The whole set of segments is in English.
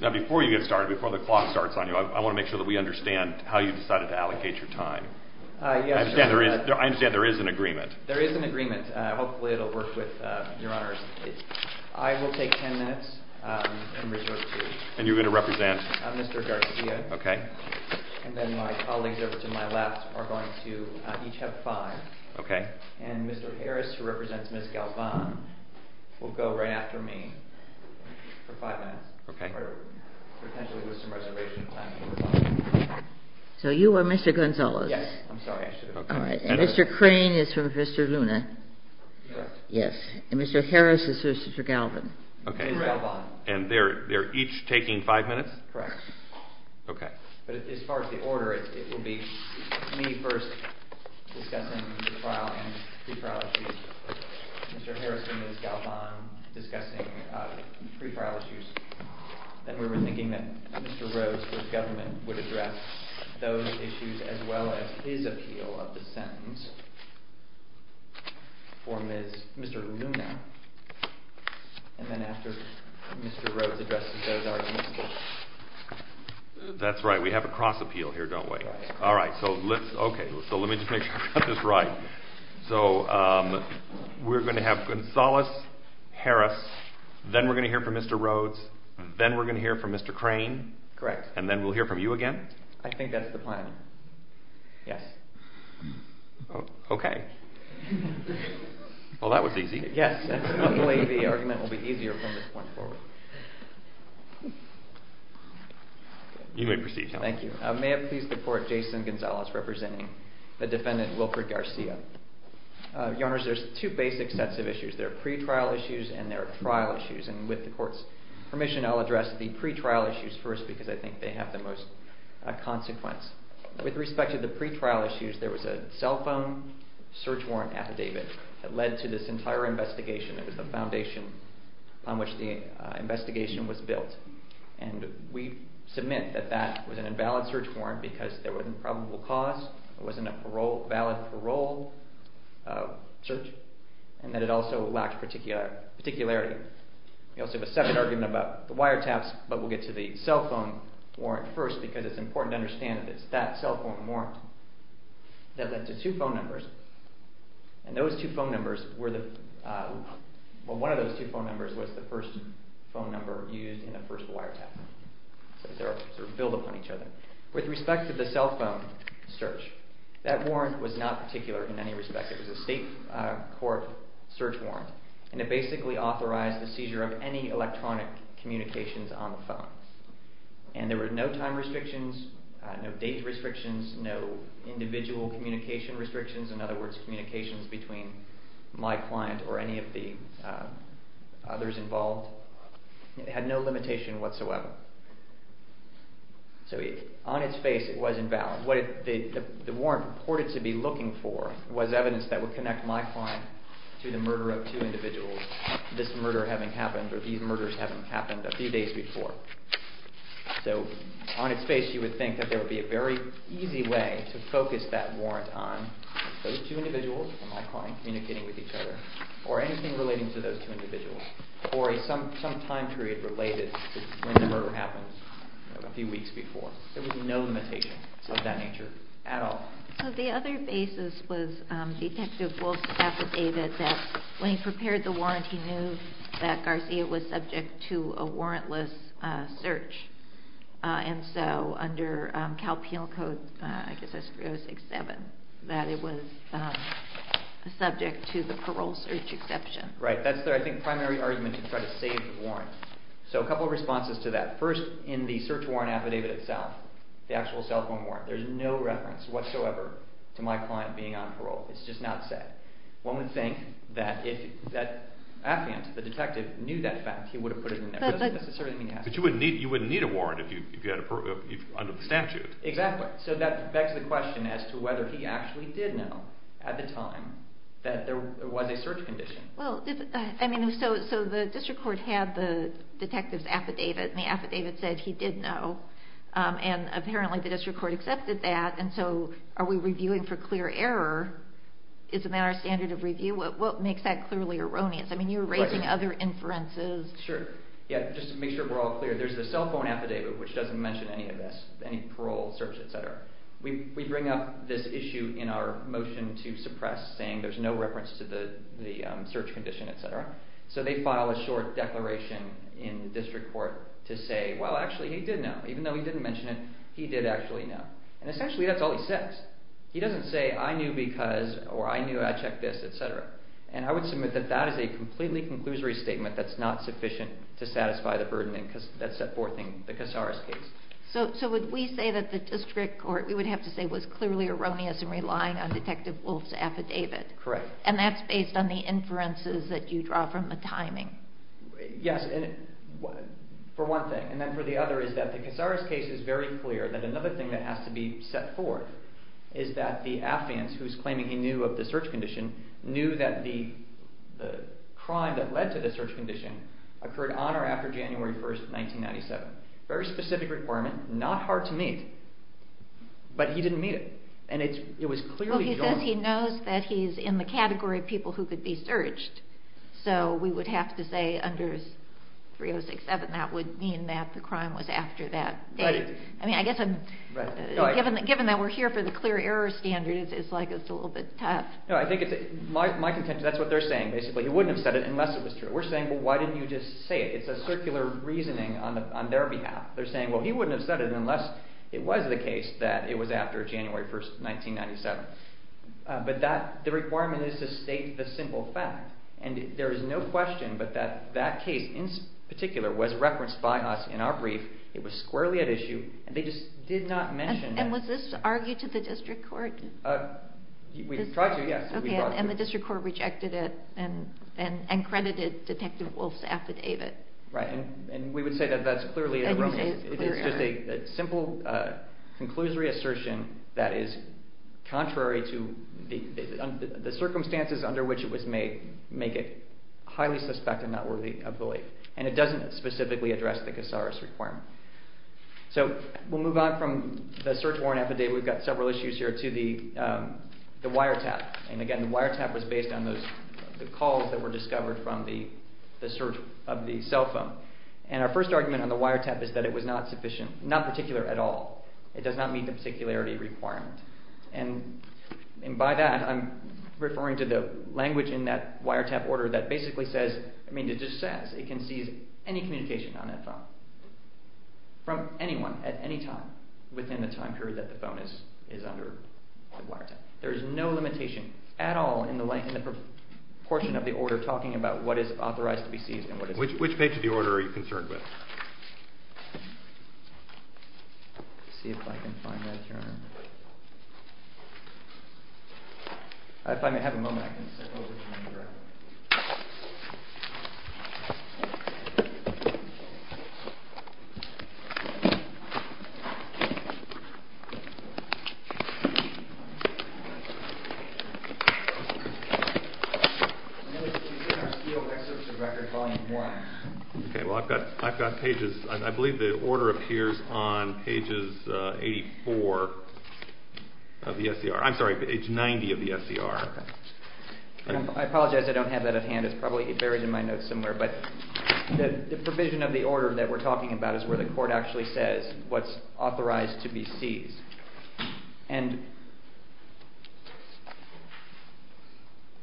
Now before you get started, before the clock starts on you, I want to make sure that we understand how you decided to allocate your time. Yes, sir. I understand there is an agreement. There is an agreement. Hopefully it will work with your honors. I will take ten minutes and reserve two. And you're going to represent? Mr. Garcia. Okay. And then my colleagues over to my left are going to each have five. Okay. And Mr. Harris, who represents Ms. Galvan, will go right after me for five minutes. Okay. Potentially with some reservation time. So you are Mr. Gonzalez? Yes. I'm sorry. I should have... All right. And Mr. Crane is for Mr. Luna? Yes. Yes. And Mr. Harris is for Mr. Galvan? Okay. Ms. Galvan. And they're each taking five minutes? Correct. Okay. But as far as the order, it will be me first discussing the trial and pre-trial issues. Mr. Harris and Ms. Galvan discussing pre-trial issues. Then we were thinking that Mr. Rhodes, for his government, would address those issues as well as his appeal of the sentence for Mr. Luna. And then after Mr. Rhodes addresses those arguments. That's right. We have a cross appeal here, don't we? All right. So let's... Okay. So let me just make sure I got this right. So we're going to have Gonzalez, Harris, then we're going to hear from Mr. Rhodes, then we're going to hear from Mr. Crane. Correct. And then we'll hear from you again? I think that's the plan. Yes. Okay. Well, that was easy. Yes. I believe the argument will be easier from this point forward. You may proceed, Your Honor. Thank you. May it please the Court, Jason Gonzalez representing the defendant, Wilford Garcia. Your Honors, there's two basic sets of issues. There are pre-trial issues and there are trial issues. And with the Court's permission, I'll address the pre-trial issues first because I think they have the most consequence. With respect to the pre-trial issues, there was a cell phone search warrant affidavit that led to this entire investigation. It was the foundation on which the investigation was built. And we submit that that was an invalid search warrant because there was an improbable cause, it wasn't a valid parole search, and that it also lacked particularity. We also have a second argument about the wiretaps, but we'll get to the cell phone warrant first because it's important to understand that it's that cell phone warrant that led to two phone numbers. And one of those two phone numbers was the first phone number used in the first wiretap. So they're sort of built upon each other. With respect to the cell phone search, that warrant was not particular in any respect. It was a state court search warrant, and it basically authorized the seizure of any electronic communications on the phone. And there were no time restrictions, no date restrictions, no individual communication restrictions, in other words, communications between my client or any of the others involved. It had no limitation whatsoever. So on its face, it was invalid. What the warrant reported to be looking for was evidence that would connect my client to the murder of two individuals, this murder having happened, or these murders having happened a few days before. So on its face, you would think that there would be a very easy way to focus that warrant on those two individuals and my client communicating with each other or anything relating to those two individuals or some time period related to when the murder happened a few weeks before. There was no limitation of that nature at all. So the other basis was Detective Wilson affidavit that when he prepared the warrant, he knew that Garcia was subject to a warrantless search. And so under Cal Penal Code, I guess I screwed up, 6-7, that it was subject to the parole search exception. Right. That's the, I think, primary argument to try to save the warrant. So a couple of responses to that. First, in the search warrant affidavit itself, the actual cell phone warrant, there's no reference whatsoever to my client being on parole. It's just not said. One would think that if that affidavit, the detective, knew that fact, he would have put it in there. But you wouldn't need a warrant under the statute. Exactly. So that begs the question as to whether he actually did know at the time that there was a search condition. Well, I mean, so the district court had the detective's affidavit, and the affidavit said he did know. And apparently the district court accepted that, and so are we reviewing for clear error? Isn't that our standard of review? What makes that clearly erroneous? I mean, you're raising other inferences. Sure. Yeah, just to make sure we're all clear, there's the cell phone affidavit, which doesn't mention any of this, any parole search, et cetera. We bring up this issue in our motion to suppress, saying there's no reference to the search condition, et cetera. So they file a short declaration in the district court to say, well, actually, he did know. Even though he didn't mention it, he did actually know. And essentially that's all he says. He doesn't say, I knew because, or I knew, I checked this, et cetera. And I would submit that that is a completely conclusory statement that's not sufficient to satisfy the burden that's set forth in the Casares case. So would we say that the district court, we would have to say, was clearly erroneous in relying on Detective Wolf's affidavit? Correct. And that's based on the inferences that you draw from the timing? Yes, for one thing. And then for the other is that the Casares case is very clear that another thing that has to be set forth is that the affidavits, who's claiming he knew of the search condition, knew that the crime that led to the search condition occurred on or after January 1, 1997. Very specific requirement, not hard to meet, but he didn't meet it. And it was clearly erroneous. Well, he says he knows that he's in the category of people who could be searched. So we would have to say under 3067, that would mean that the crime was after that date. I mean, I guess given that we're here for the clear error standard, it's like it's a little bit tough. No, I think it's my contention. That's what they're saying, basically. He wouldn't have said it unless it was true. We're saying, well, why didn't you just say it? It's a circular reasoning on their behalf. They're saying, well, he wouldn't have said it unless it was the case that it was after January 1, 1997. But the requirement is to state the simple fact. And there is no question but that that case in particular was referenced by us in our brief. It was squarely at issue. They just did not mention that. And was this argued to the district court? We tried to, yes. Okay, and the district court rejected it and credited Detective Wolf's affidavit. Right, and we would say that that's clearly erroneous. It's just a simple conclusory assertion that is contrary to the circumstances under which it was made make it highly suspect and not worthy of belief. And it doesn't specifically address the Casares requirement. So we'll move on from the search warrant affidavit. We've got several issues here to the wiretap. And again, the wiretap was based on the calls that were discovered from the search of the cell phone. And our first argument on the wiretap is that it was not sufficient, not particular at all. It does not meet the particularity requirement. And by that, I'm referring to the language in that wiretap order that basically says, I mean, it just says it can seize any communication on that phone from anyone at any time within the time period that the phone is under the wiretap. There is no limitation at all in the portion of the order talking about what is authorized to be seized and what is not. Which page of the order are you concerned with? Let's see if I can find that here. If I may have a moment, I can sit over here. It's in our Steel Excerpts of Records Volume 1. Okay, well, I've got pages. I believe the order appears on pages 84 of the SCR. I'm sorry, page 90 of the SCR. I apologize, I don't have that at hand. It's probably buried in my notes somewhere. But the provision of the order that we're talking about is where the court actually says what's authorized to be seized. And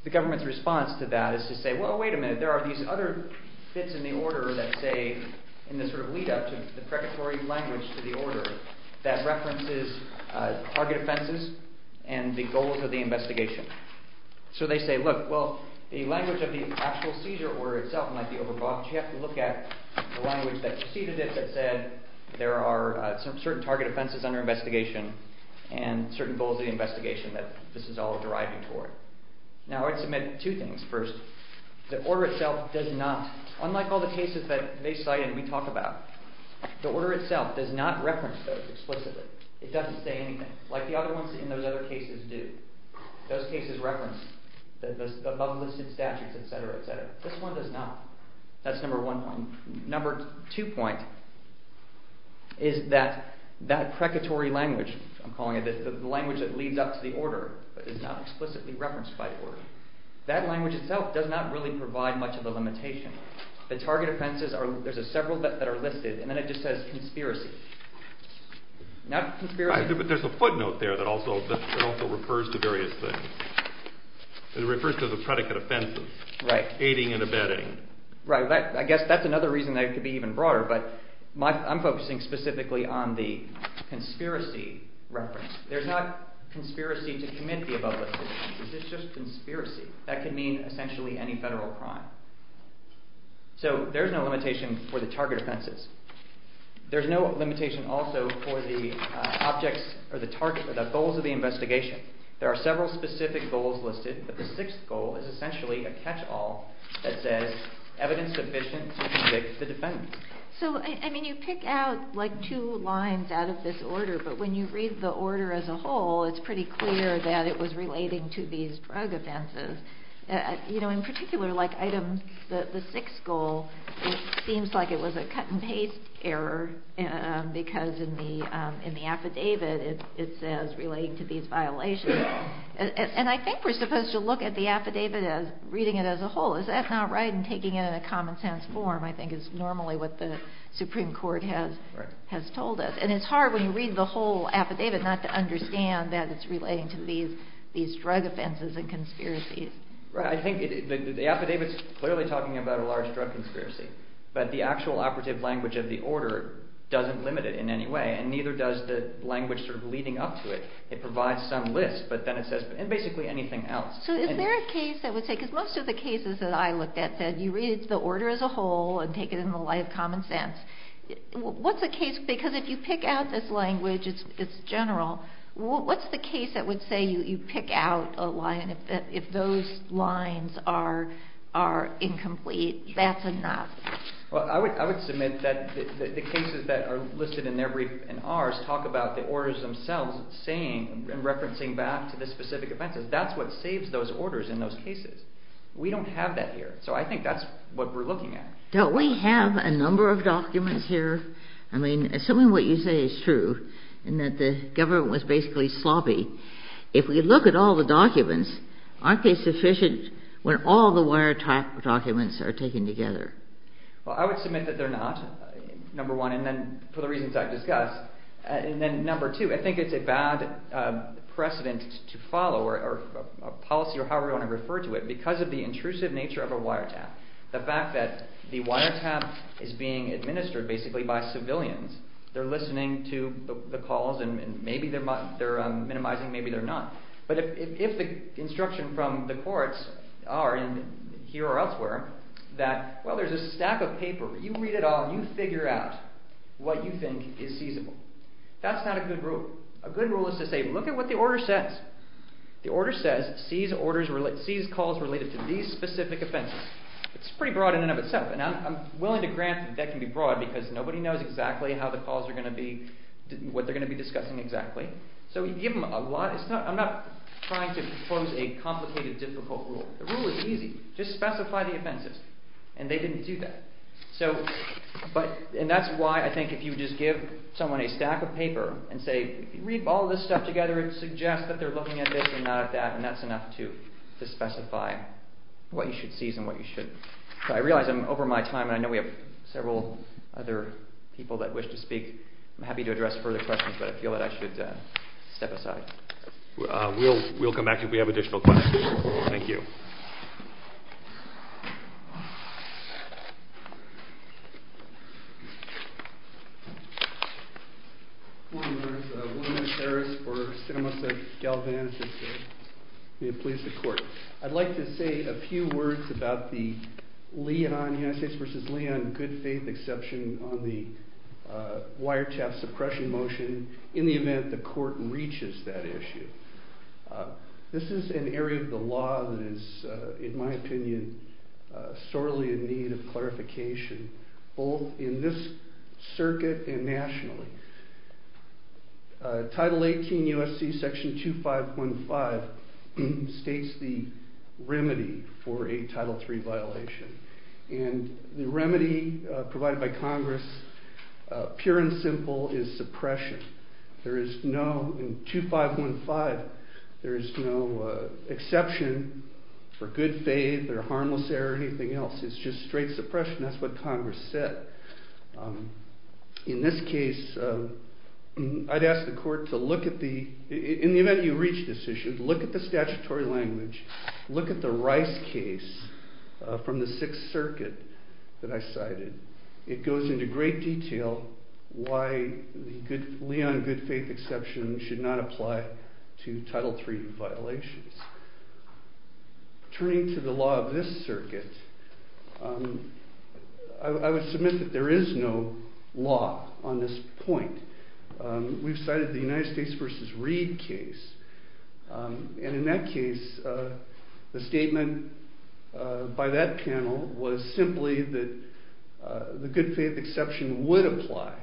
the government's response to that is to say, well, wait a minute, there are these other bits in the order that say in this sort of lead-up to the predatory language to the order that references target offenses and the goals of the investigation. So they say, look, well, the language of the actual seizure order itself might be overbought, but you have to look at the language that preceded it that said there are certain target offenses under investigation and certain goals of the investigation that this is all deriving toward. Now, I'd submit two things. First, the order itself does not, unlike all the cases that they cite and we talk about, the order itself does not reference those explicitly. It doesn't say anything, like the other ones in those other cases do. Those cases reference the above-listed statutes, etc., etc. This one does not. That's number one point. Number two point is that that predatory language, I'm calling it, the language that leads up to the order, is not explicitly referenced by the order. That language itself does not really provide much of the limitation. The target offenses, there's several that are listed, and then it just says conspiracy. But there's a footnote there that also refers to various things. It refers to the predicate offenses, aiding and abetting. Right, I guess that's another reason that it could be even broader, but I'm focusing specifically on the conspiracy reference. There's not conspiracy to commit the above-listed offenses. It's just conspiracy. That could mean essentially any federal crime. So there's no limitation for the target offenses. There's no limitation also for the goals of the investigation. There are several specific goals listed, but the sixth goal is essentially a catch-all that says evidence sufficient to convict the defendant. So, I mean, you pick out like two lines out of this order, but when you read the order as a whole, it's pretty clear that it was relating to these drug offenses. You know, in particular, like item, the sixth goal, it seems like it was a cut-and-paste error because in the affidavit it says relating to these violations. And I think we're supposed to look at the affidavit as reading it as a whole. Is that not right? And taking it in a common-sense form, I think, is normally what the Supreme Court has told us. And it's hard when you read the whole affidavit not to understand that it's relating to these drug offenses and conspiracies. Right. I think the affidavit's clearly talking about a large drug conspiracy, but the actual operative language of the order doesn't limit it in any way, and neither does the language sort of leading up to it. It provides some list, but then it says basically anything else. So is there a case that would say, because most of the cases that I looked at said you read the order as a whole and take it in the light of common sense. What's the case? Because if you pick out this language, it's general. What's the case that would say you pick out a line and if those lines are incomplete, that's enough? I would submit that the cases that are listed in ours talk about the orders themselves saying and referencing back to the specific offenses. That's what saves those orders in those cases. We don't have that here. So I think that's what we're looking at. Don't we have a number of documents here? I mean, assuming what you say is true and that the government was basically sloppy, if we look at all the documents, aren't they sufficient when all the wiretap documents are taken together? Well, I would submit that they're not, number one, and then for the reasons I've discussed. And then number two, I think it's a bad precedent to follow or policy or however you want to refer to it because of the intrusive nature of a wiretap. The fact that the wiretap is being administered basically by civilians. They're listening to the calls and maybe they're minimizing, maybe they're not. But if the instruction from the courts are, here or elsewhere, that, well, there's a stack of paper. You read it all. You figure out what you think is feasible. That's not a good rule. A good rule is to say, look at what the order says. The order says seize calls related to these specific offenses. It's pretty broad in and of itself, and I'm willing to grant that that can be broad because nobody knows exactly how the calls are going to be, what they're going to be discussing exactly. So you give them a lot. I'm not trying to propose a complicated, difficult rule. The rule is easy. Just specify the offenses, and they didn't do that. And that's why I think if you just give someone a stack of paper and say, if you read all this stuff together, it suggests that they're looking at this and not at that, and that's enough to specify what you should seize and what you shouldn't. I realize I'm over my time, and I know we have several other people that wish to speak. I'm happy to address further questions, but I feel that I should step aside. We'll come back if we have additional questions. Thank you. Good morning. I'd like to say a few words about the United States v. Leon good faith exception on the wiretap suppression motion in the event the court reaches that issue. This is an area of the law that is, in my opinion, sorely in need of clarification, both in this circuit and nationally. Title 18 U.S.C. section 2515 states the remedy for a Title III violation, and the remedy provided by Congress, pure and simple, is suppression. There is no, in 2515, there is no exception for good faith or harmless error or anything else. It's just straight suppression. That's what Congress said. In this case, I'd ask the court to look at the, in the event you reach this issue, look at the statutory language, look at the Rice case from the Sixth Circuit that I cited. It goes into great detail why the Leon good faith exception should not apply to Title III violations. Turning to the law of this circuit, I would submit that there is no law on this point. We've cited the United States v. Reed case, and in that case, the statement by that panel was simply that the good faith exception would apply.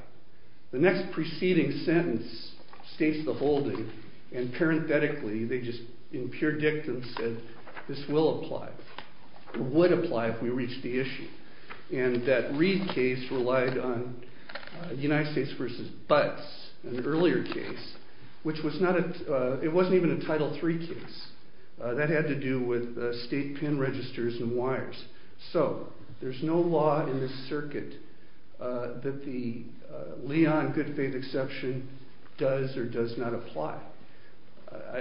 The next preceding sentence states the holding, and parenthetically, they just in pure dictum said, this will apply, would apply if we reach the issue. And that Reed case relied on United States v. Butts, an earlier case, which was not a, it wasn't even a Title III case. That had to do with state pin registers and wires. So, there's no law in this circuit that the Leon good faith exception does or does not apply.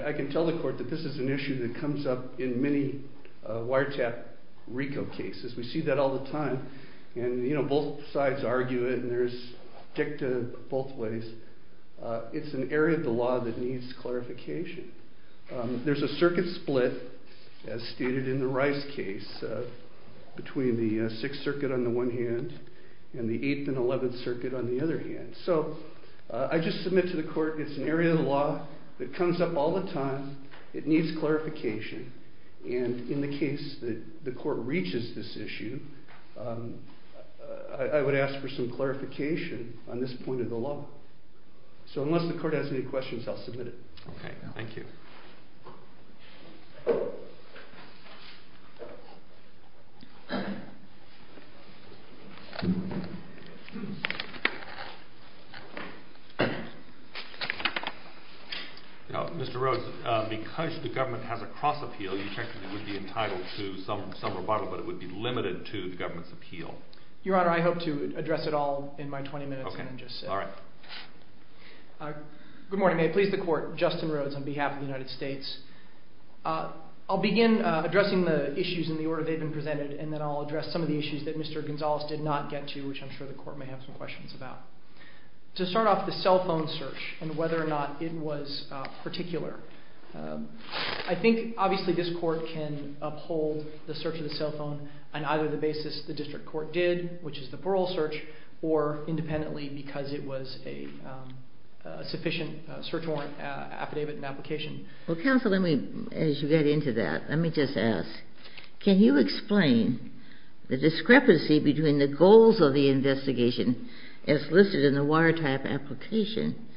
I can tell the court that this is an issue that comes up in many wiretap RICO cases. We see that all the time, and you know, both sides argue it, and there's dictum both ways. It's an area of the law that needs clarification. There's a circuit split, as stated in the Rice case, between the 6th circuit on the one hand, and the 8th and 11th circuit on the other hand. So, I just submit to the court, it's an area of the law that comes up all the time, it needs clarification, and in the case that the court reaches this issue, I would ask for some clarification on this point of the law. So, unless the court has any questions, I'll submit it. Okay, thank you. Mr. Rhodes, because the government has a cross-appeal, you checked that it would be entitled to some rebuttal, but it would be limited to the government's appeal. Your Honor, I hope to address it all in my 20 minutes. Okay, all right. Good morning, may it please the court. Justin Rhodes on behalf of the United States. I'll begin addressing the issues in the order they've been presented, and then I'll address some of the issues that Mr. Gonzales did not get to, which I'm sure the court may have some questions about. To start off, the cell phone search, and whether or not it was particular. I think, obviously, this court can uphold the search of the cell phone on either the basis the district court did, which is the plural search, or independently because it was a sufficient search warrant affidavit and application. Well, counsel, as you get into that, let me just ask, can you explain the discrepancy between the goals of the investigation as listed in the wiretap application,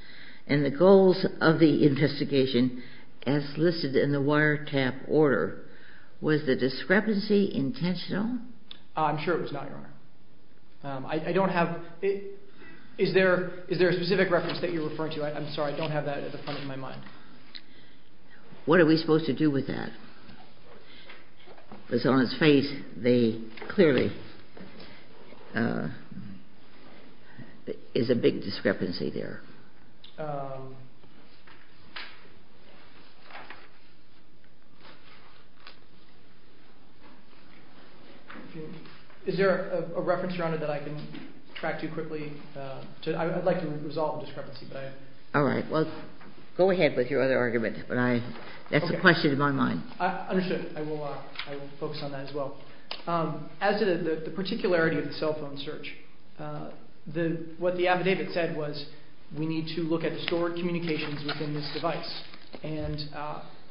and the goals of the investigation as listed in the wiretap order? Was the discrepancy intentional? I'm sure it was not, Your Honor. Is there a specific reference that you're referring to? I'm sorry, I don't have that at the front of my mind. What are we supposed to do with that? Because on its face, there clearly is a big discrepancy there. Is there a reference, Your Honor, that I can track to quickly? I'd like to resolve the discrepancy. All right. Well, go ahead with your other argument. That's a question in my mind. I understand. I will focus on that as well. As to the particularity of the cell phone search, what the affidavit said was, we need to look at the stored communications within this device. And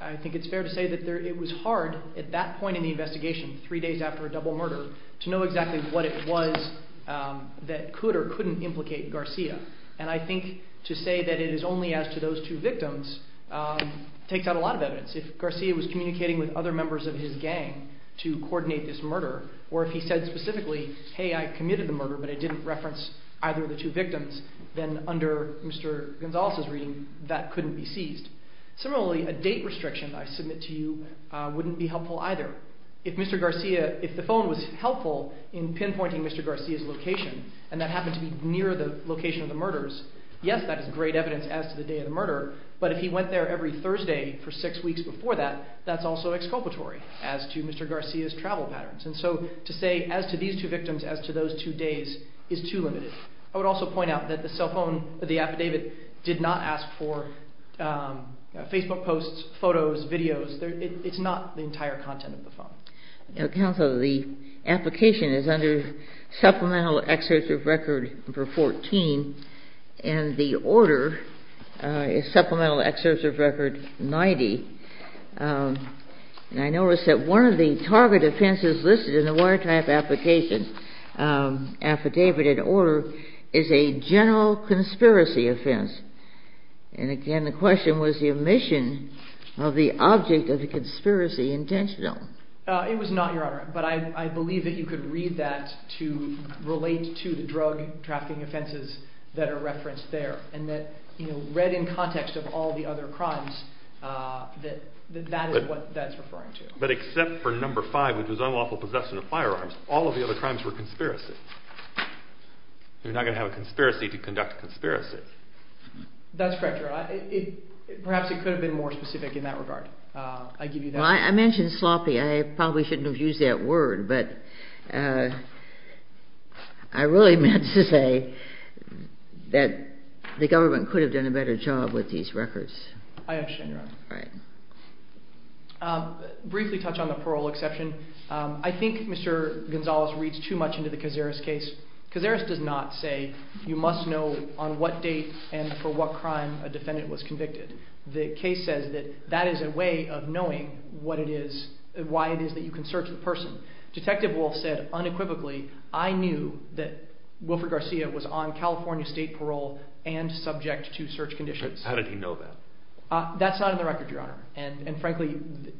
I think it's fair to say that it was hard at that point in the investigation, three days after a double murder, to know exactly what it was that could or couldn't implicate Garcia. And I think to say that it is only as to those two victims takes out a lot of evidence. If Garcia was communicating with other members of his gang to coordinate this murder, or if he said specifically, hey, I committed the murder, but I didn't reference either of the two victims, then under Mr. Gonzalez's reading, that couldn't be seized. Similarly, a date restriction I submit to you wouldn't be helpful either. If Mr. Garcia, if the phone was helpful in pinpointing Mr. Garcia's location, and that happened to be near the location of the murders, yes, that is great evidence as to the day of the murder, but if he went there every Thursday for six weeks before that, that's also exculpatory as to Mr. Garcia's travel patterns. And so to say as to these two victims, as to those two days, is too limited. I would also point out that the cell phone, the affidavit, did not ask for Facebook posts, photos, videos. It's not the entire content of the phone. Counsel, the application is under supplemental excessive record for 14, and the order is supplemental excessive record 90. And I noticed that one of the target offenses listed in the wiretap application affidavit and order is a general conspiracy offense. And again, the question was the omission of the object of the conspiracy intentional. It was not, Your Honor, but I believe that you could read that to relate to the drug trafficking offenses that are referenced there, and that read in context of all the other crimes that that is what that's referring to. But except for number five, which was unlawful possession of firearms, all of the other crimes were conspiracies. You're not going to have a conspiracy to conduct conspiracies. That's correct, Your Honor. Perhaps it could have been more specific in that regard. I give you that. Well, I mentioned sloppy. I probably shouldn't have used that word, but I really meant to say that the government could have done a better job with these records. I understand, Your Honor. All right. Briefly touch on the parole exception. I think Mr. Gonzalez reads too much into the Cazares case. Cazares does not say you must know on what date and for what crime a defendant was convicted. The case says that that is a way of knowing what it is, why it is that you can search the person. Detective Wolf said unequivocally, I knew that Wilfred Garcia was on California state parole and subject to search conditions. How did he know that? That's not in the record, Your Honor. And frankly,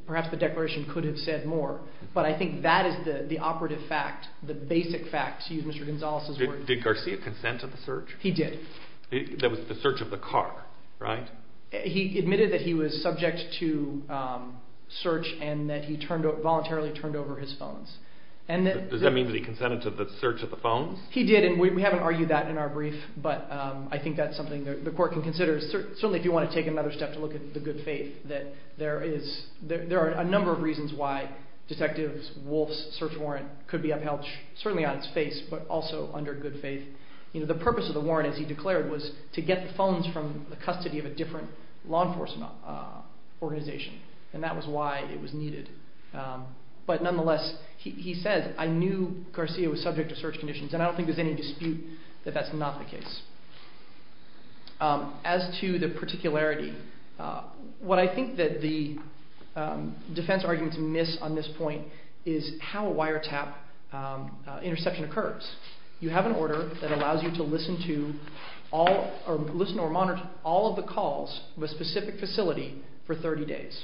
perhaps the declaration could have said more. But I think that is the operative fact, the basic fact, to use Mr. Gonzalez's words. Did Garcia consent to the search? He did. That was the search of the car, right? He admitted that he was subject to search and that he voluntarily turned over his phones. Does that mean that he consented to the search of the phones? He did, and we haven't argued that in our brief. But I think that is something the court can consider, certainly if you want to take another step to look at the good faith, that there are a number of reasons why Detective Wolf's search warrant could be upheld, certainly on its face, but also under good faith. The purpose of the warrant, as he declared, was to get the phones from the custody of a different law enforcement organization, and that was why it was needed. But nonetheless, he says, I knew Garcia was subject to search conditions, and I don't think there's any dispute that that's not the case. As to the particularity, what I think that the defense arguments miss on this point is how a wiretap interception occurs. You have an order that allows you to listen to or monitor all of the calls of a specific facility for 30 days.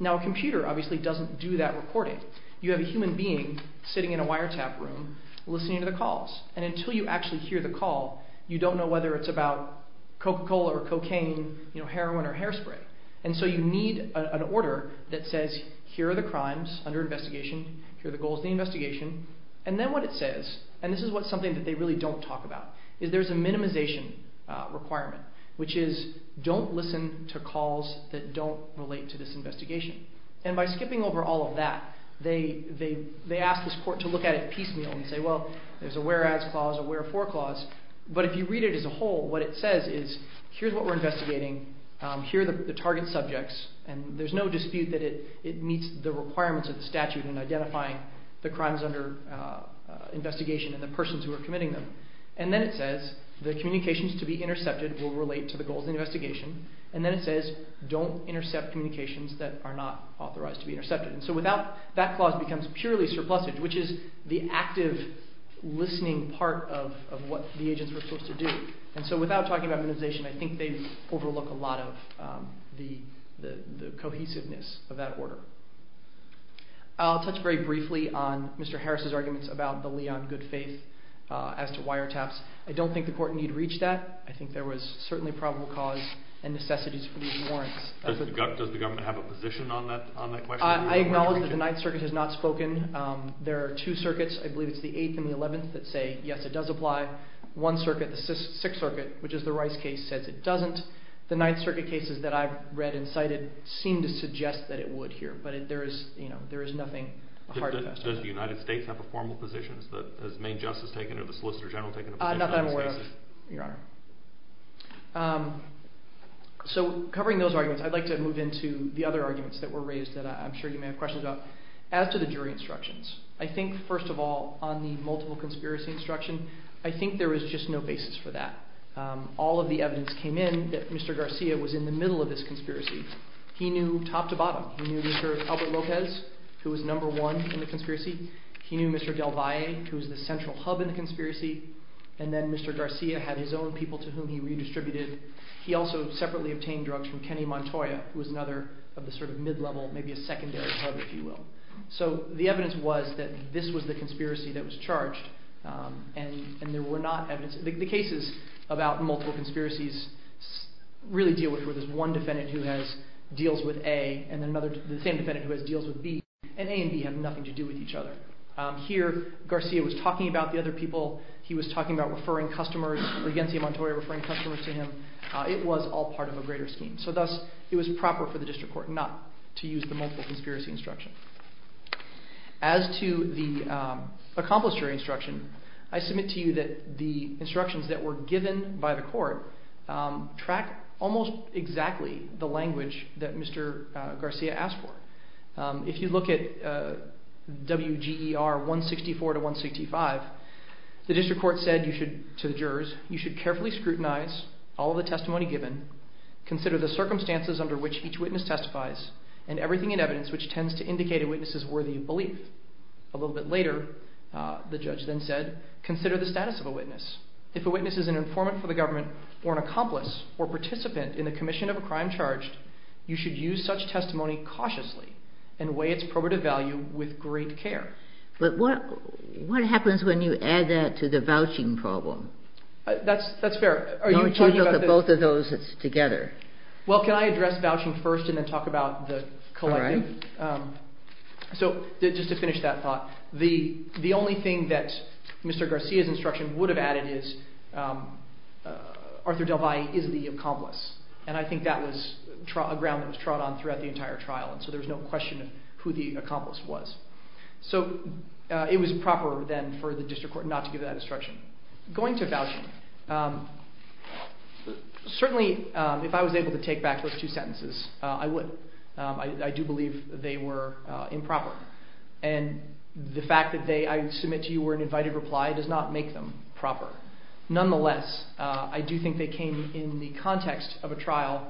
Now a computer obviously doesn't do that recording. You have a human being sitting in a wiretap room listening to the calls, and until you actually hear the call, you don't know whether it's about Coca-Cola or cocaine, heroin or hairspray. And so you need an order that says here are the crimes under investigation, here are the goals of the investigation, and then what it says, and this is something that they really don't talk about, is there's a minimization requirement, which is don't listen to calls that don't relate to this investigation. And by skipping over all of that, they ask this court to look at it piecemeal and say, well, there's a whereas clause, a wherefore clause, but if you read it as a whole, what it says is here's what we're investigating, here are the target subjects, and there's no dispute that it meets the requirements of the statute in identifying the crimes under investigation and the persons who are committing them. And then it says the communications to be intercepted will relate to the goals of the investigation, and then it says don't intercept communications that are not authorized to be intercepted. And so without that clause becomes purely surplusage, which is the active listening part of what the agents were supposed to do. And so without talking about minimization, I think they overlook a lot of the cohesiveness of that order. I'll touch very briefly on Mr. Harris' arguments about the Leon good faith as to wiretaps. I don't think the court needed to reach that. I think there was certainly probable cause and necessities for these warrants. Does the government have a position on that question? I acknowledge that the Ninth Circuit has not spoken. There are two circuits, I believe it's the Eighth and the Eleventh, that say yes, it does apply. One circuit, the Sixth Circuit, which is the Rice case, says it doesn't. The Ninth Circuit cases that I've read and cited seem to suggest that it would here, but there is nothing hard about that. Does the United States have a formal position? Has Maine Justice taken or the Solicitor General taken a position on this case? Not that I'm aware of, Your Honor. So covering those arguments, I'd like to move into the other arguments that were raised that I'm sure you may have questions about. As to the jury instructions, I think first of all, on the multiple conspiracy instruction, I think there was just no basis for that. All of the evidence came in that Mr. Garcia was in the middle of this conspiracy. He knew top to bottom. He knew Mr. Albert Lopez, who was number one in the conspiracy. He knew Mr. Del Valle, who was the central hub in the conspiracy. And then Mr. Garcia had his own people to whom he redistributed. He also separately obtained drugs from Kenny Montoya, who was another of the sort of mid-level, maybe a secondary hub, if you will. So the evidence was that this was the conspiracy that was charged, and there were not evidence... The cases about multiple conspiracies really deal with where there's one defendant who has deals with A, and the same defendant who has deals with B, and A and B have nothing to do with each other. Here, Garcia was talking about the other people. He was talking about referring customers, or Yancey Montoya referring customers to him. It was all part of a greater scheme. So thus, it was proper for the district court not to use the multiple conspiracy instruction. As to the accomplice jury instruction, I submit to you that the instructions that were given by the court track almost exactly the language that Mr. Garcia asked for. If you look at WGER 164 to 165, the district court said to the jurors, you should carefully scrutinize all of the testimony given, consider the circumstances under which each witness testifies, and everything in evidence which tends to indicate a witness is worthy of belief. A little bit later, the judge then said, consider the status of a witness. If a witness is an informant for the government, or an accomplice or participant in the commission of a crime charged, you should use such testimony cautiously and weigh its probative value with great care. But what happens when you add that to the vouching problem? That's fair. Are you talking about the both of those together? Well, can I address vouching first and then talk about the collective? All right. So just to finish that thought, the only thing that Mr. Garcia's instruction would have added is, Arthur DelValle is the accomplice. And I think that was a ground that was trod on throughout the entire trial, and so there was no question of who the accomplice was. So it was proper then for the district court not to give that instruction. Going to vouching, certainly if I was able to take back those two sentences, I would. I do believe they were improper. And the fact that they, I submit to you, were an invited reply does not make them proper. Nonetheless, I do think they came in the context of a trial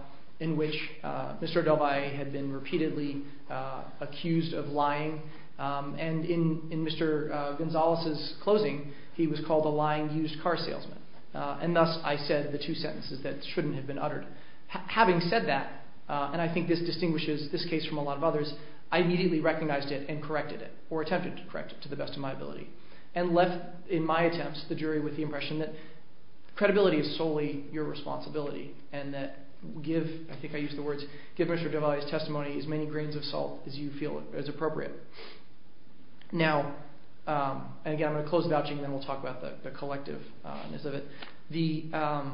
And in Mr. Gonzalez's closing, he was called a lying used car salesman. And thus I said the two sentences that shouldn't have been uttered. Having said that, and I think this distinguishes this case from a lot of others, I immediately recognized it and corrected it, or attempted to correct it to the best of my ability, and left, in my attempts, the jury with the impression that credibility is solely your responsibility, and that give, I think I used the words, give Mr. Duvalier's testimony as many grains of salt as you feel is appropriate. Now, and again I'm going to close vouching, and then we'll talk about the collective-ness of it. The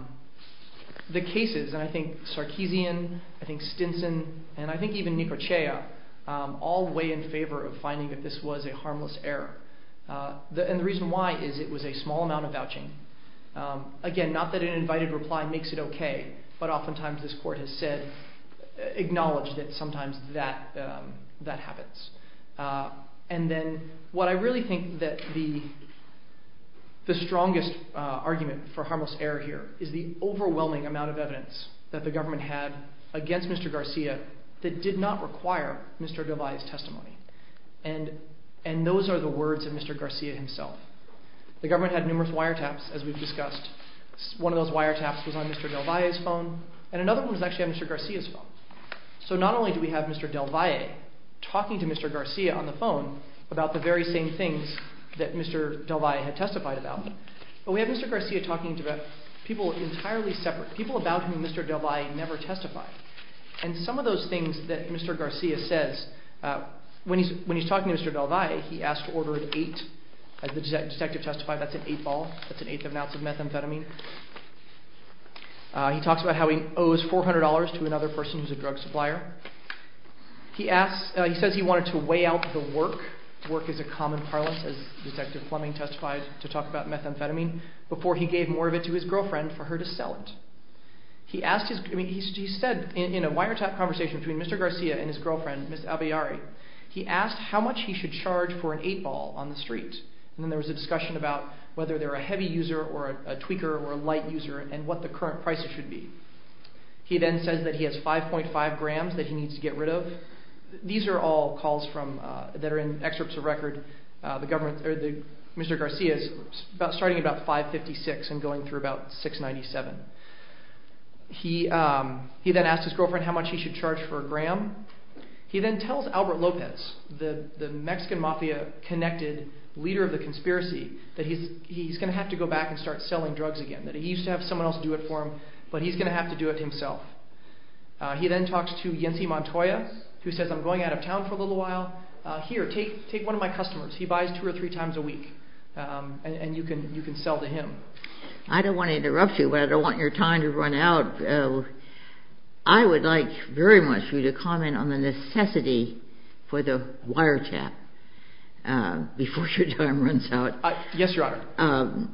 cases, and I think Sarkeesian, I think Stinson, and I think even Nicochea, all weigh in favor of finding that this was a harmless error. And the reason why is it was a small amount of vouching. Again, not that an invited reply makes it okay, but oftentimes this court has said, acknowledged that sometimes that happens. And then what I really think that the strongest argument for harmless error here is the overwhelming amount of evidence that the government had against Mr. Garcia that did not require Mr. Duvalier's testimony. And those are the words of Mr. Garcia himself. The government had numerous wiretaps, as we've discussed. One of those wiretaps was on Mr. Duvalier's phone, and another one was actually on Mr. Garcia's phone. So not only do we have Mr. Duvalier talking to Mr. Garcia on the phone about the very same things that Mr. Duvalier had testified about, but we have Mr. Garcia talking to people entirely separate, people about whom Mr. Duvalier never testified. And some of those things that Mr. Garcia says, when he's talking to Mr. Duvalier, he asked to order an eight. As the detective testified, that's an eight ball, that's an eighth of an ounce of methamphetamine. He talks about how he owes $400 to another person who's a drug supplier. He says he wanted to weigh out the work. Work is a common parlance, as Detective Fleming testified, to talk about methamphetamine, before he gave more of it to his girlfriend for her to sell it. He asked how much he should charge for an eight ball on the street. And then there was a discussion about whether they're a heavy user or a tweaker or a light user, and what the current prices should be. He then says that he has 5.5 grams that he needs to get rid of. These are all calls that are in excerpts of record. Mr. Garcia's starting at about 5.56 and going through about 6.97. He then tells Albert Lopez, the Mexican Mafia connected leader of the conspiracy, that he's going to have to go back and start selling drugs again, that he used to have someone else do it for him, but he's going to have to do it himself. He then talks to Yancy Montoya, who says, I'm going out of town for a little while, here, take one of my customers. He buys two or three times a week, and you can sell to him. I don't want to interrupt you, but I don't want your time to run out. I would like very much for you to comment on the necessity for the wiretap before your time runs out. Yes, Your Honor.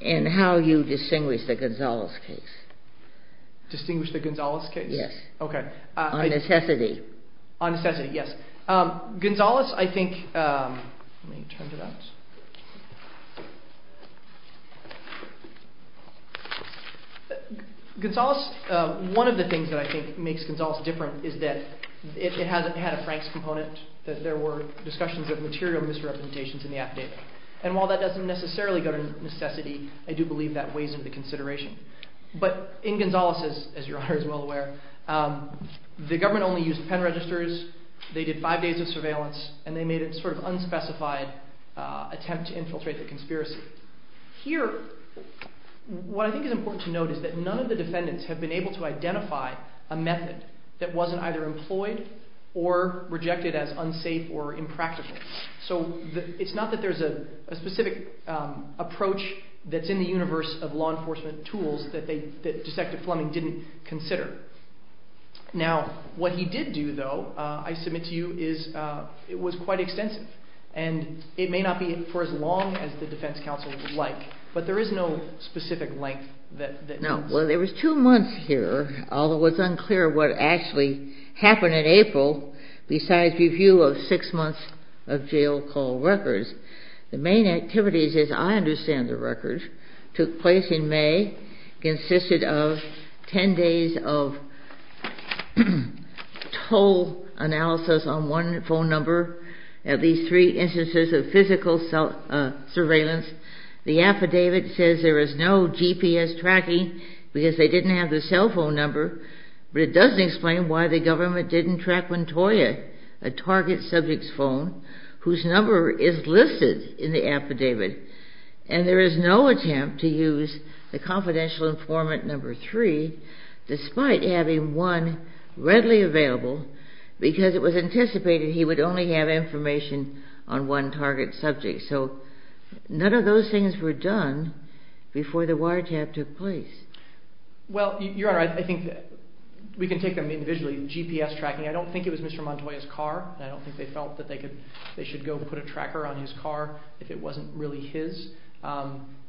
And how you distinguish the Gonzales case. Distinguish the Gonzales case? Yes. Okay. On necessity. On necessity, yes. Gonzales, I think, one of the things that I think makes Gonzales different is that it hasn't had a Franks component, that there were discussions of material misrepresentations in the affidavit. And while that doesn't necessarily go to necessity, I do believe that weighs into consideration. But in Gonzales, as Your Honor is well aware, the government only used pen registers. They did five days of surveillance, and they made a sort of unspecified attempt to infiltrate the conspiracy. Here, what I think is important to note is that none of the defendants have been able to identify a method that wasn't either employed or rejected as unsafe or impractical. So it's not that there's a specific approach that's in the universe of law enforcement tools that Detective Fleming didn't consider. Now, what he did do, though, I submit to you is it was quite extensive. And it may not be for as long as the defense counsel would like, but there is no specific length that counts. No. Well, there was two months here, although it's unclear what actually happened in April besides review of six months of jail call records. The main activities, as I understand the records, took place in May consisted of 10 days of total analysis on one phone number, at least three instances of physical surveillance. The affidavit says there was no GPS tracking because they didn't have the cell phone number. But it does explain why the government didn't track Montoya, a target subject's phone, whose number is listed in the affidavit. And there is no attempt to use the confidential informant number three despite having one readily available because it was anticipated he would only have information on one target subject. So none of those things were done before the wiretap took place. Well, Your Honor, I think we can take them individually. GPS tracking, I don't think it was Mr. Montoya's car. I don't think they felt that they should go put a tracker on his car if it wasn't really his.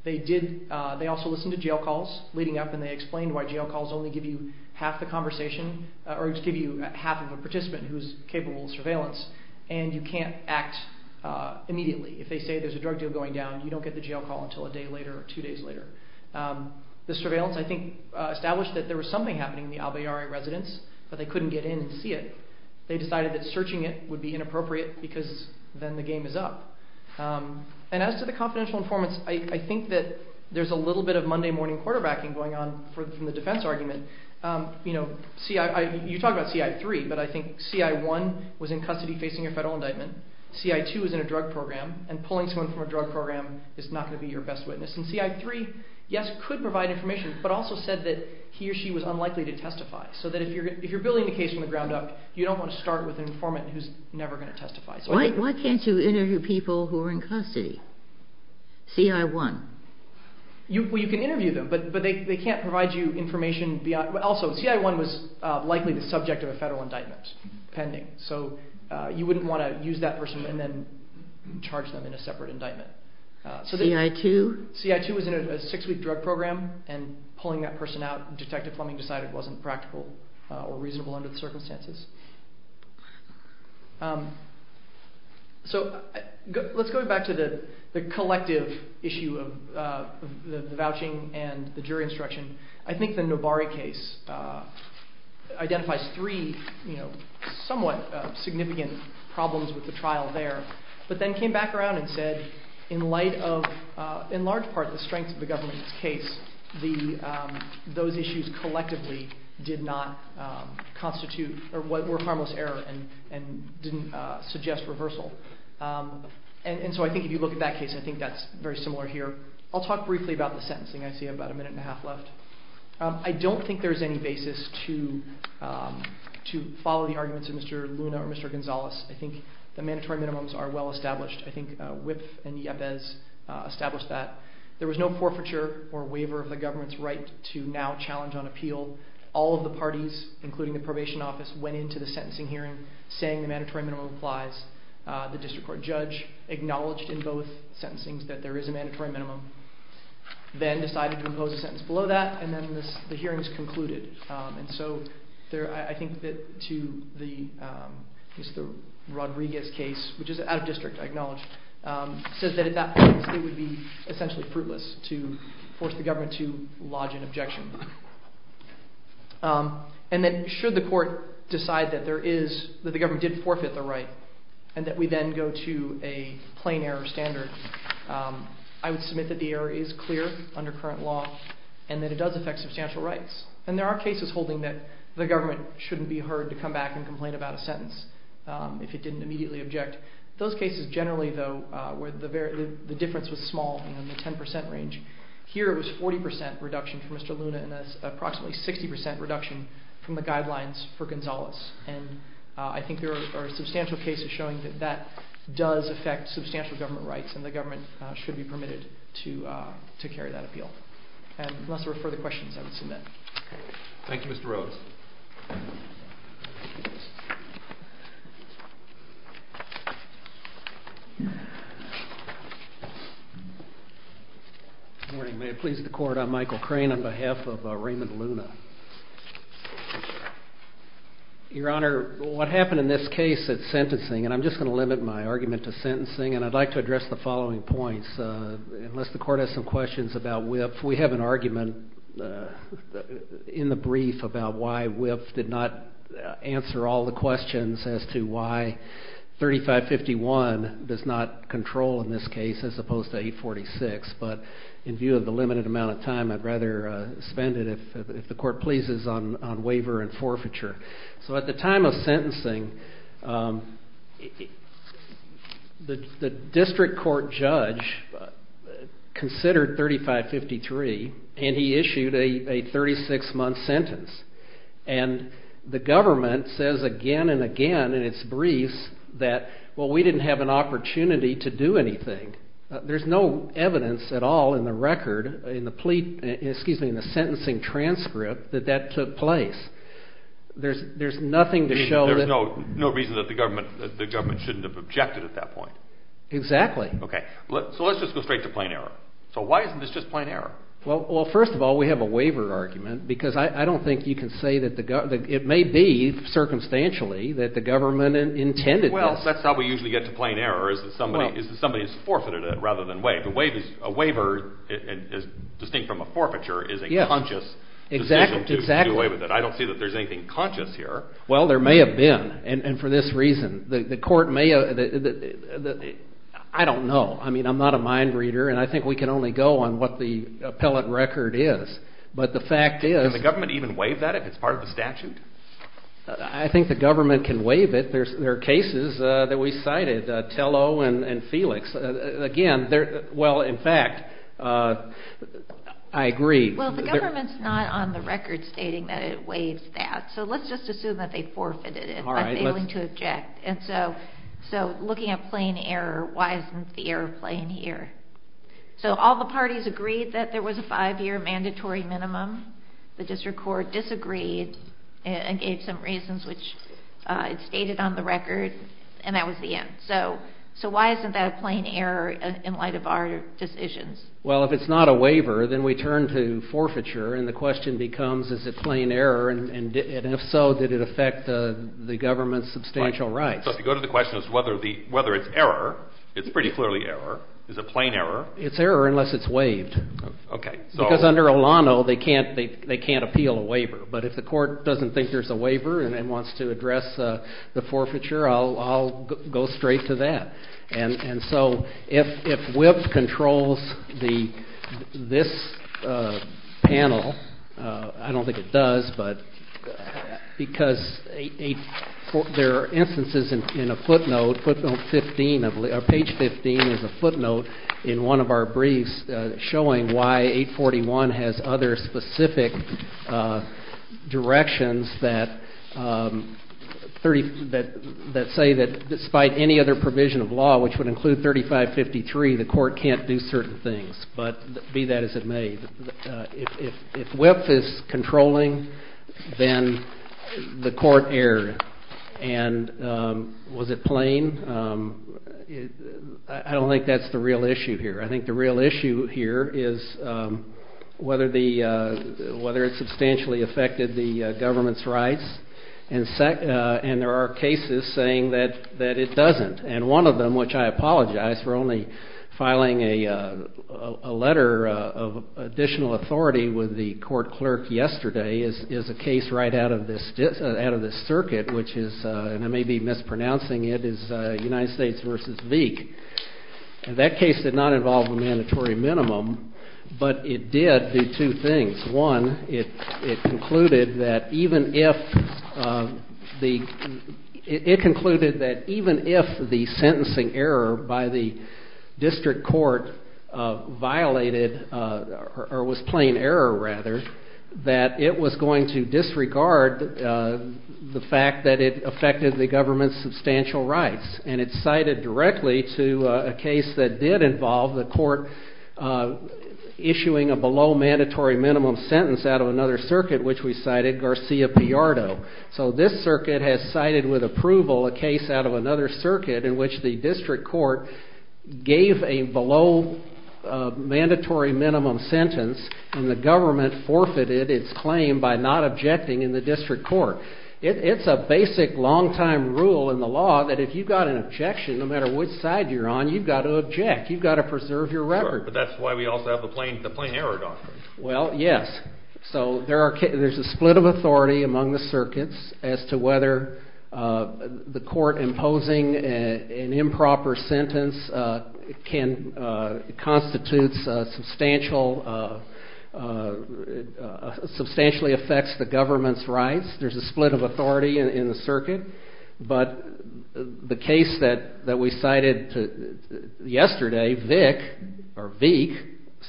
They also listened to jail calls leading up, and they explained why jail calls only give you half the conversation or give you half of a participant who is capable of surveillance, and you can't act immediately. If they say there's a drug deal going down, you don't get the jail call until a day later or two days later. The surveillance, I think, established that there was something happening in the Albayarre residence, but they couldn't get in and see it. They decided that searching it would be inappropriate because then the game is up. And as to the confidential informants, I think that there's a little bit of Monday morning quarterbacking going on from the defense argument. You talk about CI3, but I think CI1 was in custody facing a federal indictment. CI2 was in a drug program, and pulling someone from a drug program is not going to be your best witness. And CI3, yes, could provide information, but also said that he or she was unlikely to testify, so that if you're building a case from the ground up, you don't want to start with an informant who's never going to testify. Why can't you interview people who are in custody? CI1. You can interview them, but they can't provide you information. Also, CI1 was likely the subject of a federal indictment pending, so you wouldn't want to use that person and then charge them in a separate indictment. CI2? CI2 was in a six-week drug program, and pulling that person out, Detective Fleming decided it wasn't practical or reasonable under the circumstances. So let's go back to the collective issue of the vouching and the jury instruction. I think the Novari case identifies three somewhat significant problems with the trial there, but then came back around and said, in light of, in large part, the strength of the government's case, those issues collectively did not constitute or were harmless error and didn't suggest reversal. And so I think if you look at that case, I think that's very similar here. I'll talk briefly about the sentencing. I see I have about a minute and a half left. I don't think there's any basis to follow the arguments of Mr. Luna or Mr. Gonzales. I think the mandatory minimums are well established. I think Wipf and Iabez established that. There was no forfeiture or waiver of the government's right to now challenge on appeal. All of the parties, including the probation office, went into the sentencing hearing saying the mandatory minimum applies. The district court judge acknowledged in both sentencings that there is a mandatory minimum, then decided to impose a sentence below that, and then the hearing was concluded. And so I think that to Mr. Rodriguez's case, which is out of district, I acknowledge, says that at that point it would be essentially fruitless to force the government to lodge an objection. And that should the court decide that the government did forfeit the right and that we then go to a plain error standard, I would submit that the error is clear under current law and that it does affect substantial rights. And there are cases holding that the government shouldn't be heard to come back and complain about a sentence if it didn't immediately object. Those cases generally, though, where the difference was small in the 10% range, here it was a 40% reduction for Mr. Luna and an approximately 60% reduction from the guidelines for Gonzales. And I think there are substantial cases showing that that does affect substantial government rights and the government should be permitted to carry that appeal. Unless there are further questions, I would submit. Thank you, Mr. Rhodes. Good morning. May it please the court. I'm Michael Crane on behalf of Raymond Luna. Your Honor, what happened in this case at sentencing, and I'm just going to limit my argument to sentencing, and I'd like to address the following points. Unless the court has some questions about WIPF, we have an argument in the brief about why WIPF did not answer all the questions as to why 3551 does not control in this case as opposed to 846. But in view of the limited amount of time, I'd rather spend it if the court pleases on waiver and forfeiture. So at the time of sentencing, the district court judge considered 3553, and he issued a 36-month sentence. And the government says again and again in its briefs that, well, we didn't have an opportunity to do anything. There's no evidence at all in the record, in the plea, excuse me, in the sentencing transcript, that that took place. There's nothing to show that. There's no reason that the government shouldn't have objected at that point. Exactly. Okay. So let's just go straight to plain error. So why isn't this just plain error? Well, first of all, we have a waiver argument because I don't think you can say that it may be, circumstantially, that the government intended this. Well, that's how we usually get to plain error, is that somebody has forfeited it rather than waived it. A waiver, distinct from a forfeiture, is a conscious decision to do away with it. I don't see that there's anything conscious here. Well, there may have been, and for this reason. The court may have – I don't know. I mean, I'm not a mind reader, and I think we can only go on what the appellate record is. But the fact is – Can the government even waive that if it's part of the statute? I think the government can waive it. There are cases that we cited, Tello and Felix. Again, well, in fact, I agree. Well, the government's not on the record stating that it waives that. So let's just assume that they forfeited it by failing to object. So looking at plain error, why isn't the error plain here? So all the parties agreed that there was a five-year mandatory minimum. The district court disagreed and gave some reasons, which it stated on the record, and that was the end. So why isn't that a plain error in light of our decisions? Well, if it's not a waiver, then we turn to forfeiture, and the question becomes is it plain error, and if so, did it affect the government's substantial rights? So if you go to the question as to whether it's error, it's pretty clearly error. It's a plain error. It's error unless it's waived. Okay. Because under Olano, they can't appeal a waiver, but if the court doesn't think there's a waiver and wants to address the forfeiture, I'll go straight to that. And so if WIPP controls this panel, I don't think it does, because there are instances in a footnote, page 15 is a footnote in one of our briefs, showing why 841 has other specific directions that say that despite any other provision of law, which would include 3553, the court can't do certain things. But be that as it may, if WIPP is controlling, then the court erred. And was it plain? I don't think that's the real issue here. I think the real issue here is whether it substantially affected the government's rights, and there are cases saying that it doesn't. And one of them, which I apologize for only filing a letter of additional authority with the court clerk yesterday, is a case right out of this circuit, which is, and I may be mispronouncing it, is United States v. Veek. And that case did not involve a mandatory minimum, but it did do two things. One, it concluded that even if the sentencing error by the district court violated, or was plain error rather, that it was going to disregard the fact that it affected the government's substantial rights. And it's cited directly to a case that did involve the court issuing a below mandatory minimum sentence out of another circuit, which we cited, Garcia-Piardo. So this circuit has cited with approval a case out of another circuit in which the district court gave a below mandatory minimum sentence, and the government forfeited its claim by not objecting in the district court. It's a basic long-time rule in the law that if you've got an objection, no matter which side you're on, you've got to object. You've got to preserve your record. But that's why we also have the plain error doctrine. Well, yes. So there's a split of authority among the circuits as to whether the court imposing an improper sentence constitutes substantial, substantially affects the government's rights. There's a split of authority in the circuit. But the case that we cited yesterday, Vick, or Veek,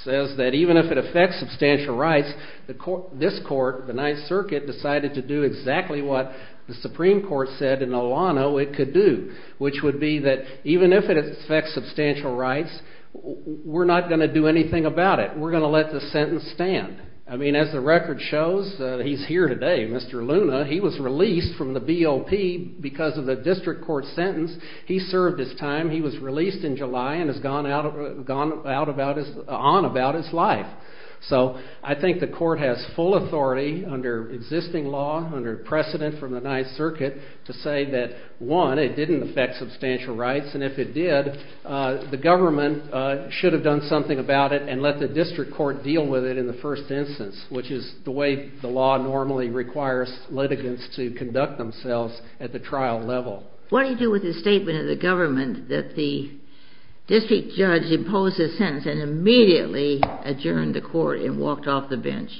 says that even if it affects substantial rights, this court, the Ninth Circuit, decided to do exactly what the Supreme Court said in Olano it could do, which would be that even if it affects substantial rights, we're not going to do anything about it. We're going to let the sentence stand. I mean, as the record shows, he's here today, Mr. Luna. He was released from the BOP because of the district court sentence. He served his time. He was released in July and has gone on about his life. So I think the court has full authority under existing law, under precedent from the Ninth Circuit, to say that, one, it didn't affect substantial rights, and if it did, the government should have done something about it and let the district court deal with it in the first instance, which is the way the law normally requires litigants to conduct themselves at the trial level. What do you do with the statement of the government that the district judge imposed a sentence and immediately adjourned the court and walked off the bench?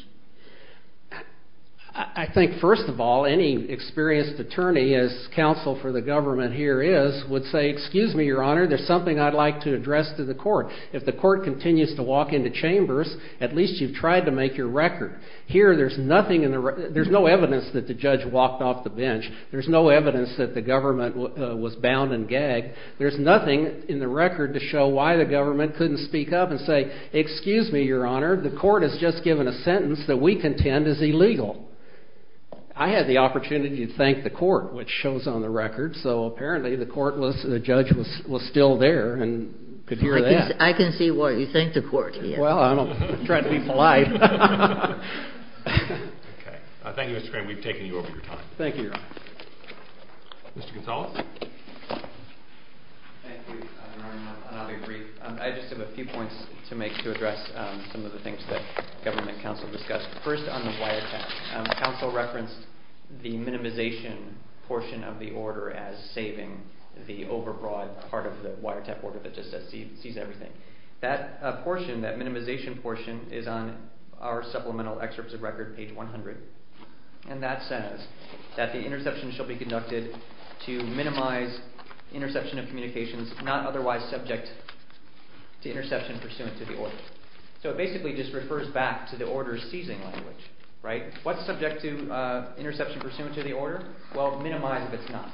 I think, first of all, any experienced attorney, as counsel for the government here is, would say, excuse me, Your Honor, there's something I'd like to address to the court. If the court continues to walk into chambers, at least you've tried to make your record. Here, there's no evidence that the judge walked off the bench. There's no evidence that the government was bound and gagged. There's nothing in the record to show why the government couldn't speak up and say, excuse me, Your Honor, the court has just given a sentence that we contend is illegal. I had the opportunity to thank the court, which shows on the record. So apparently the court was, the judge was still there and could hear that. I can see what you think the court is. Well, I don't try to be polite. Thank you, Mr. Crane. We've taken you over your time. Thank you, Your Honor. Mr. Gonzalez? Thank you, Your Honor, and I'll be brief. I just have a few points to make to address some of the things that government counsel discussed. First on the wiretap, counsel referenced the minimization portion of the order as saving the overbroad part of the wiretap order that just says seize everything. That portion, that minimization portion, is on our supplemental excerpts of record, page 100, and that says that the interception shall be conducted to minimize interception of communications not otherwise subject to interception pursuant to the order. So it basically just refers back to the order's seizing language, right? What's subject to interception pursuant to the order? Well, minimize if it's not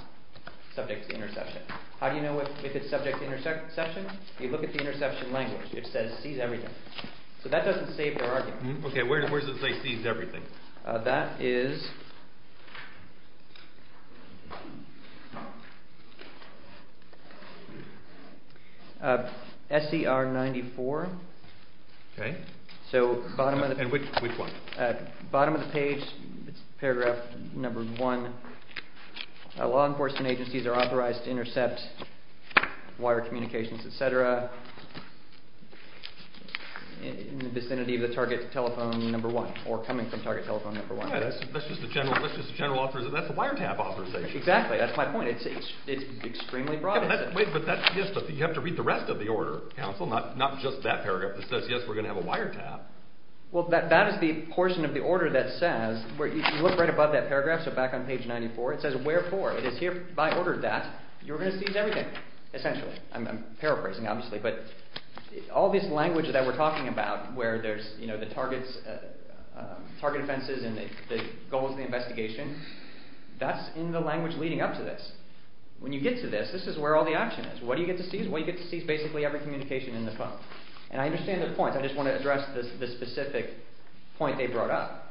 subject to interception. How do you know if it's subject to interception? You look at the interception language. It says seize everything. So that doesn't save the argument. Okay, where does it say seize everything? That is SCR 94. Okay, and which one? Bottom of the page, paragraph number one, law enforcement agencies are authorized to intercept wire communications, et cetera, in the vicinity of the target telephone number one or coming from target telephone number one. That's just the general authorization. That's the wiretap authorization. Exactly. That's my point. It's extremely broad. Yes, but you have to read the rest of the order, counsel, not just that paragraph that says, yes, we're going to have a wiretap. Well, that is the portion of the order that says, if you look right above that paragraph, so back on page 94, it says wherefore. If I ordered that, you were going to seize everything, essentially. I'm paraphrasing, obviously, but all this language that we're talking about where there's the target offenses and the goals of the investigation, that's in the language leading up to this. When you get to this, this is where all the action is. What do you get to seize? Well, you get to seize basically every communication in the phone. And I understand their points. I just want to address the specific point they brought up.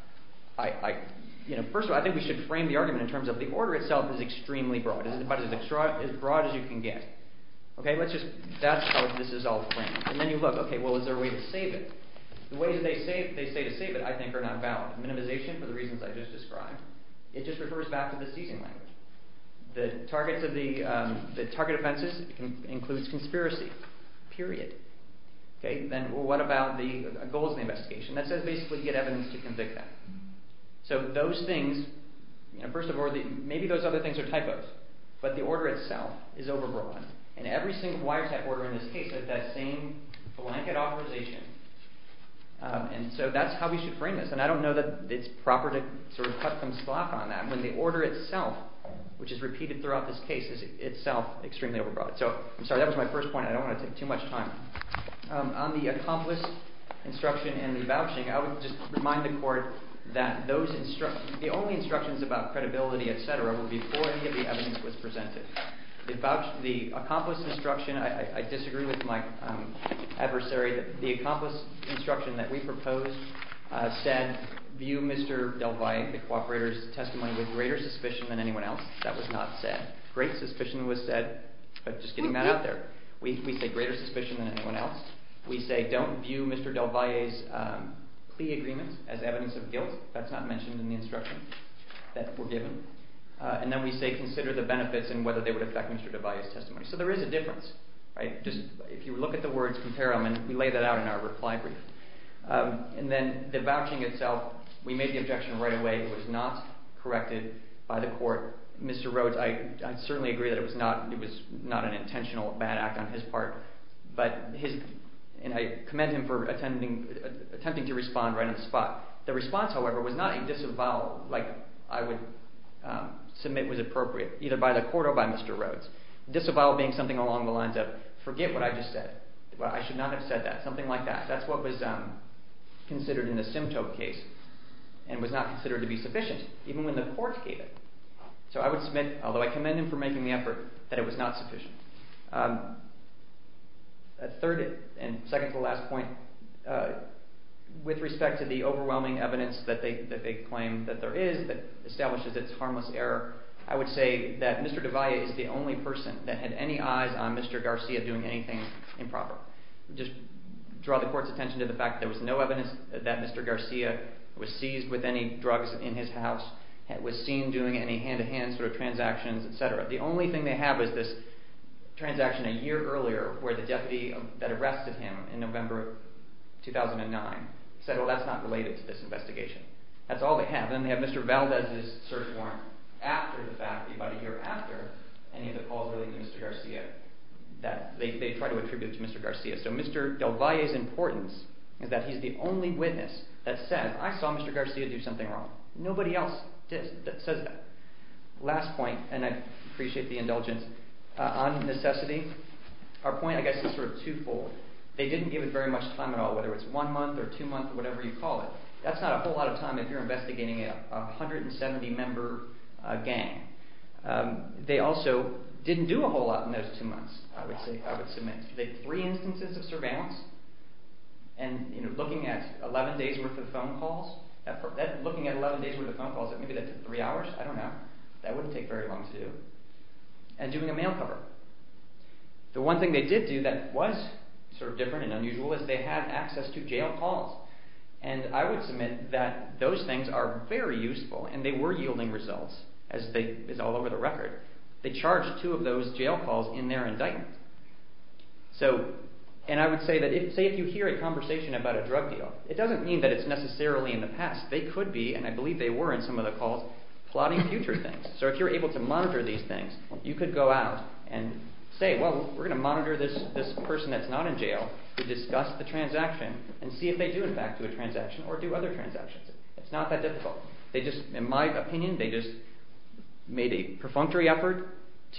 First of all, I think we should frame the argument in terms of the order itself is extremely broad. It's as broad as you can get. That's how this is all framed. And then you look, okay, well, is there a way to save it? The ways they say to save it, I think, are not valid. Minimization, for the reasons I just described, it just refers back to the seizing language. The target offenses includes conspiracy, period. Then what about the goals of the investigation? That says basically you get evidence to convict them. So those things, first of all, maybe those other things are typos. But the order itself is overbroad. And every single wiretap order in this case has that same blanket authorization. And so that's how we should frame this. And I don't know that it's proper to sort of cut some slack on that when the order itself, which is repeated throughout this case, is itself extremely overbroad. So I'm sorry, that was my first point. I don't want to take too much time. On the accomplice instruction and the vouching, I would just remind the court that those instructions, the only instructions about credibility, et cetera, were before any of the evidence was presented. The accomplice instruction, I disagree with my adversary. The accomplice instruction that we proposed said, view Mr. Del Valle, the cooperator's testimony, with greater suspicion than anyone else. That was not said. Great suspicion was said, but just getting that out there. We say greater suspicion than anyone else. We say, don't view Mr. Del Valle's plea agreements as evidence of guilt. That's not mentioned in the instruction. That's forgiven. And then we say, consider the benefits and whether they would affect Mr. Del Valle's testimony. So there is a difference. If you look at the words, compare them, and we lay that out in our reply brief. And then the vouching itself, we made the objection right away. It was not corrected by the court. Mr. Rhodes, I certainly agree that it was not an intentional bad act on his part. And I commend him for attempting to respond right on the spot. The response, however, was not a disavowal like I would submit was appropriate, either by the court or by Mr. Rhodes. Disavowal being something along the lines of, forget what I just said. I should not have said that, something like that. That's what was considered in the Simtope case and was not considered to be sufficient, even when the court gave it. So I would submit, although I commend him for making the effort, that it was not sufficient. Third, and second to the last point, with respect to the overwhelming evidence that they claim that there is, that establishes its harmless error, I would say that Mr. Devaya is the only person that had any eyes on Mr. Garcia doing anything improper. Just draw the court's attention to the fact that there was no evidence that Mr. Garcia was seized with any drugs in his house, was seen doing any hand-to-hand sort of transactions, etc. The only thing they have is this transaction a year earlier where the deputy that arrested him in November 2009 said, well, that's not related to this investigation. That's all they have. Then they have Mr. Valdez's search warrant after the fact, about a year after any of the calls related to Mr. Garcia. They try to attribute it to Mr. Garcia. So Mr. Devaya's importance is that he's the only witness that says, I saw Mr. Garcia do something wrong. Nobody else says that. Last point, and I appreciate the indulgence. On necessity, our point I guess is sort of twofold. They didn't give us very much time at all, whether it's one month or two months, whatever you call it. That's not a whole lot of time if you're investigating a 170-member gang. They also didn't do a whole lot in those two months, I would say, I would submit. They had three instances of surveillance, and looking at 11 days' worth of phone calls, looking at 11 days' worth of phone calls, maybe that took three hours, I don't know. That wouldn't take very long to do. And doing a mail cover. The one thing they did do that was sort of different and unusual is they had access to jail calls. And I would submit that those things are very useful, and they were yielding results, as is all over the record. They charged two of those jail calls in their indictment. And I would say that if you hear a conversation about a drug deal, it doesn't mean that it's necessarily in the past. They could be, and I believe they were in some of the calls, plotting future things. So if you're able to monitor these things, you could go out and say, well, we're going to monitor this person that's not in jail to discuss the transaction and see if they do, in fact, do a transaction or do other transactions. It's not that difficult. They just, in my opinion, they just made a perfunctory effort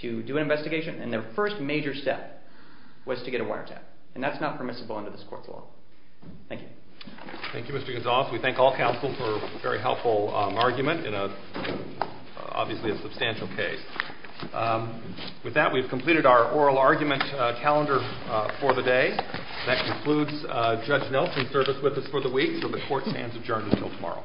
to do an investigation, and their first major step was to get a wiretap. And that's not permissible under this court's law. Thank you. Thank you, Mr. Gonzales. We thank all counsel for a very helpful argument in obviously a substantial case. With that, we've completed our oral argument calendar for the day. That concludes Judge Nelson's service with us for the week. So the court stands adjourned until tomorrow.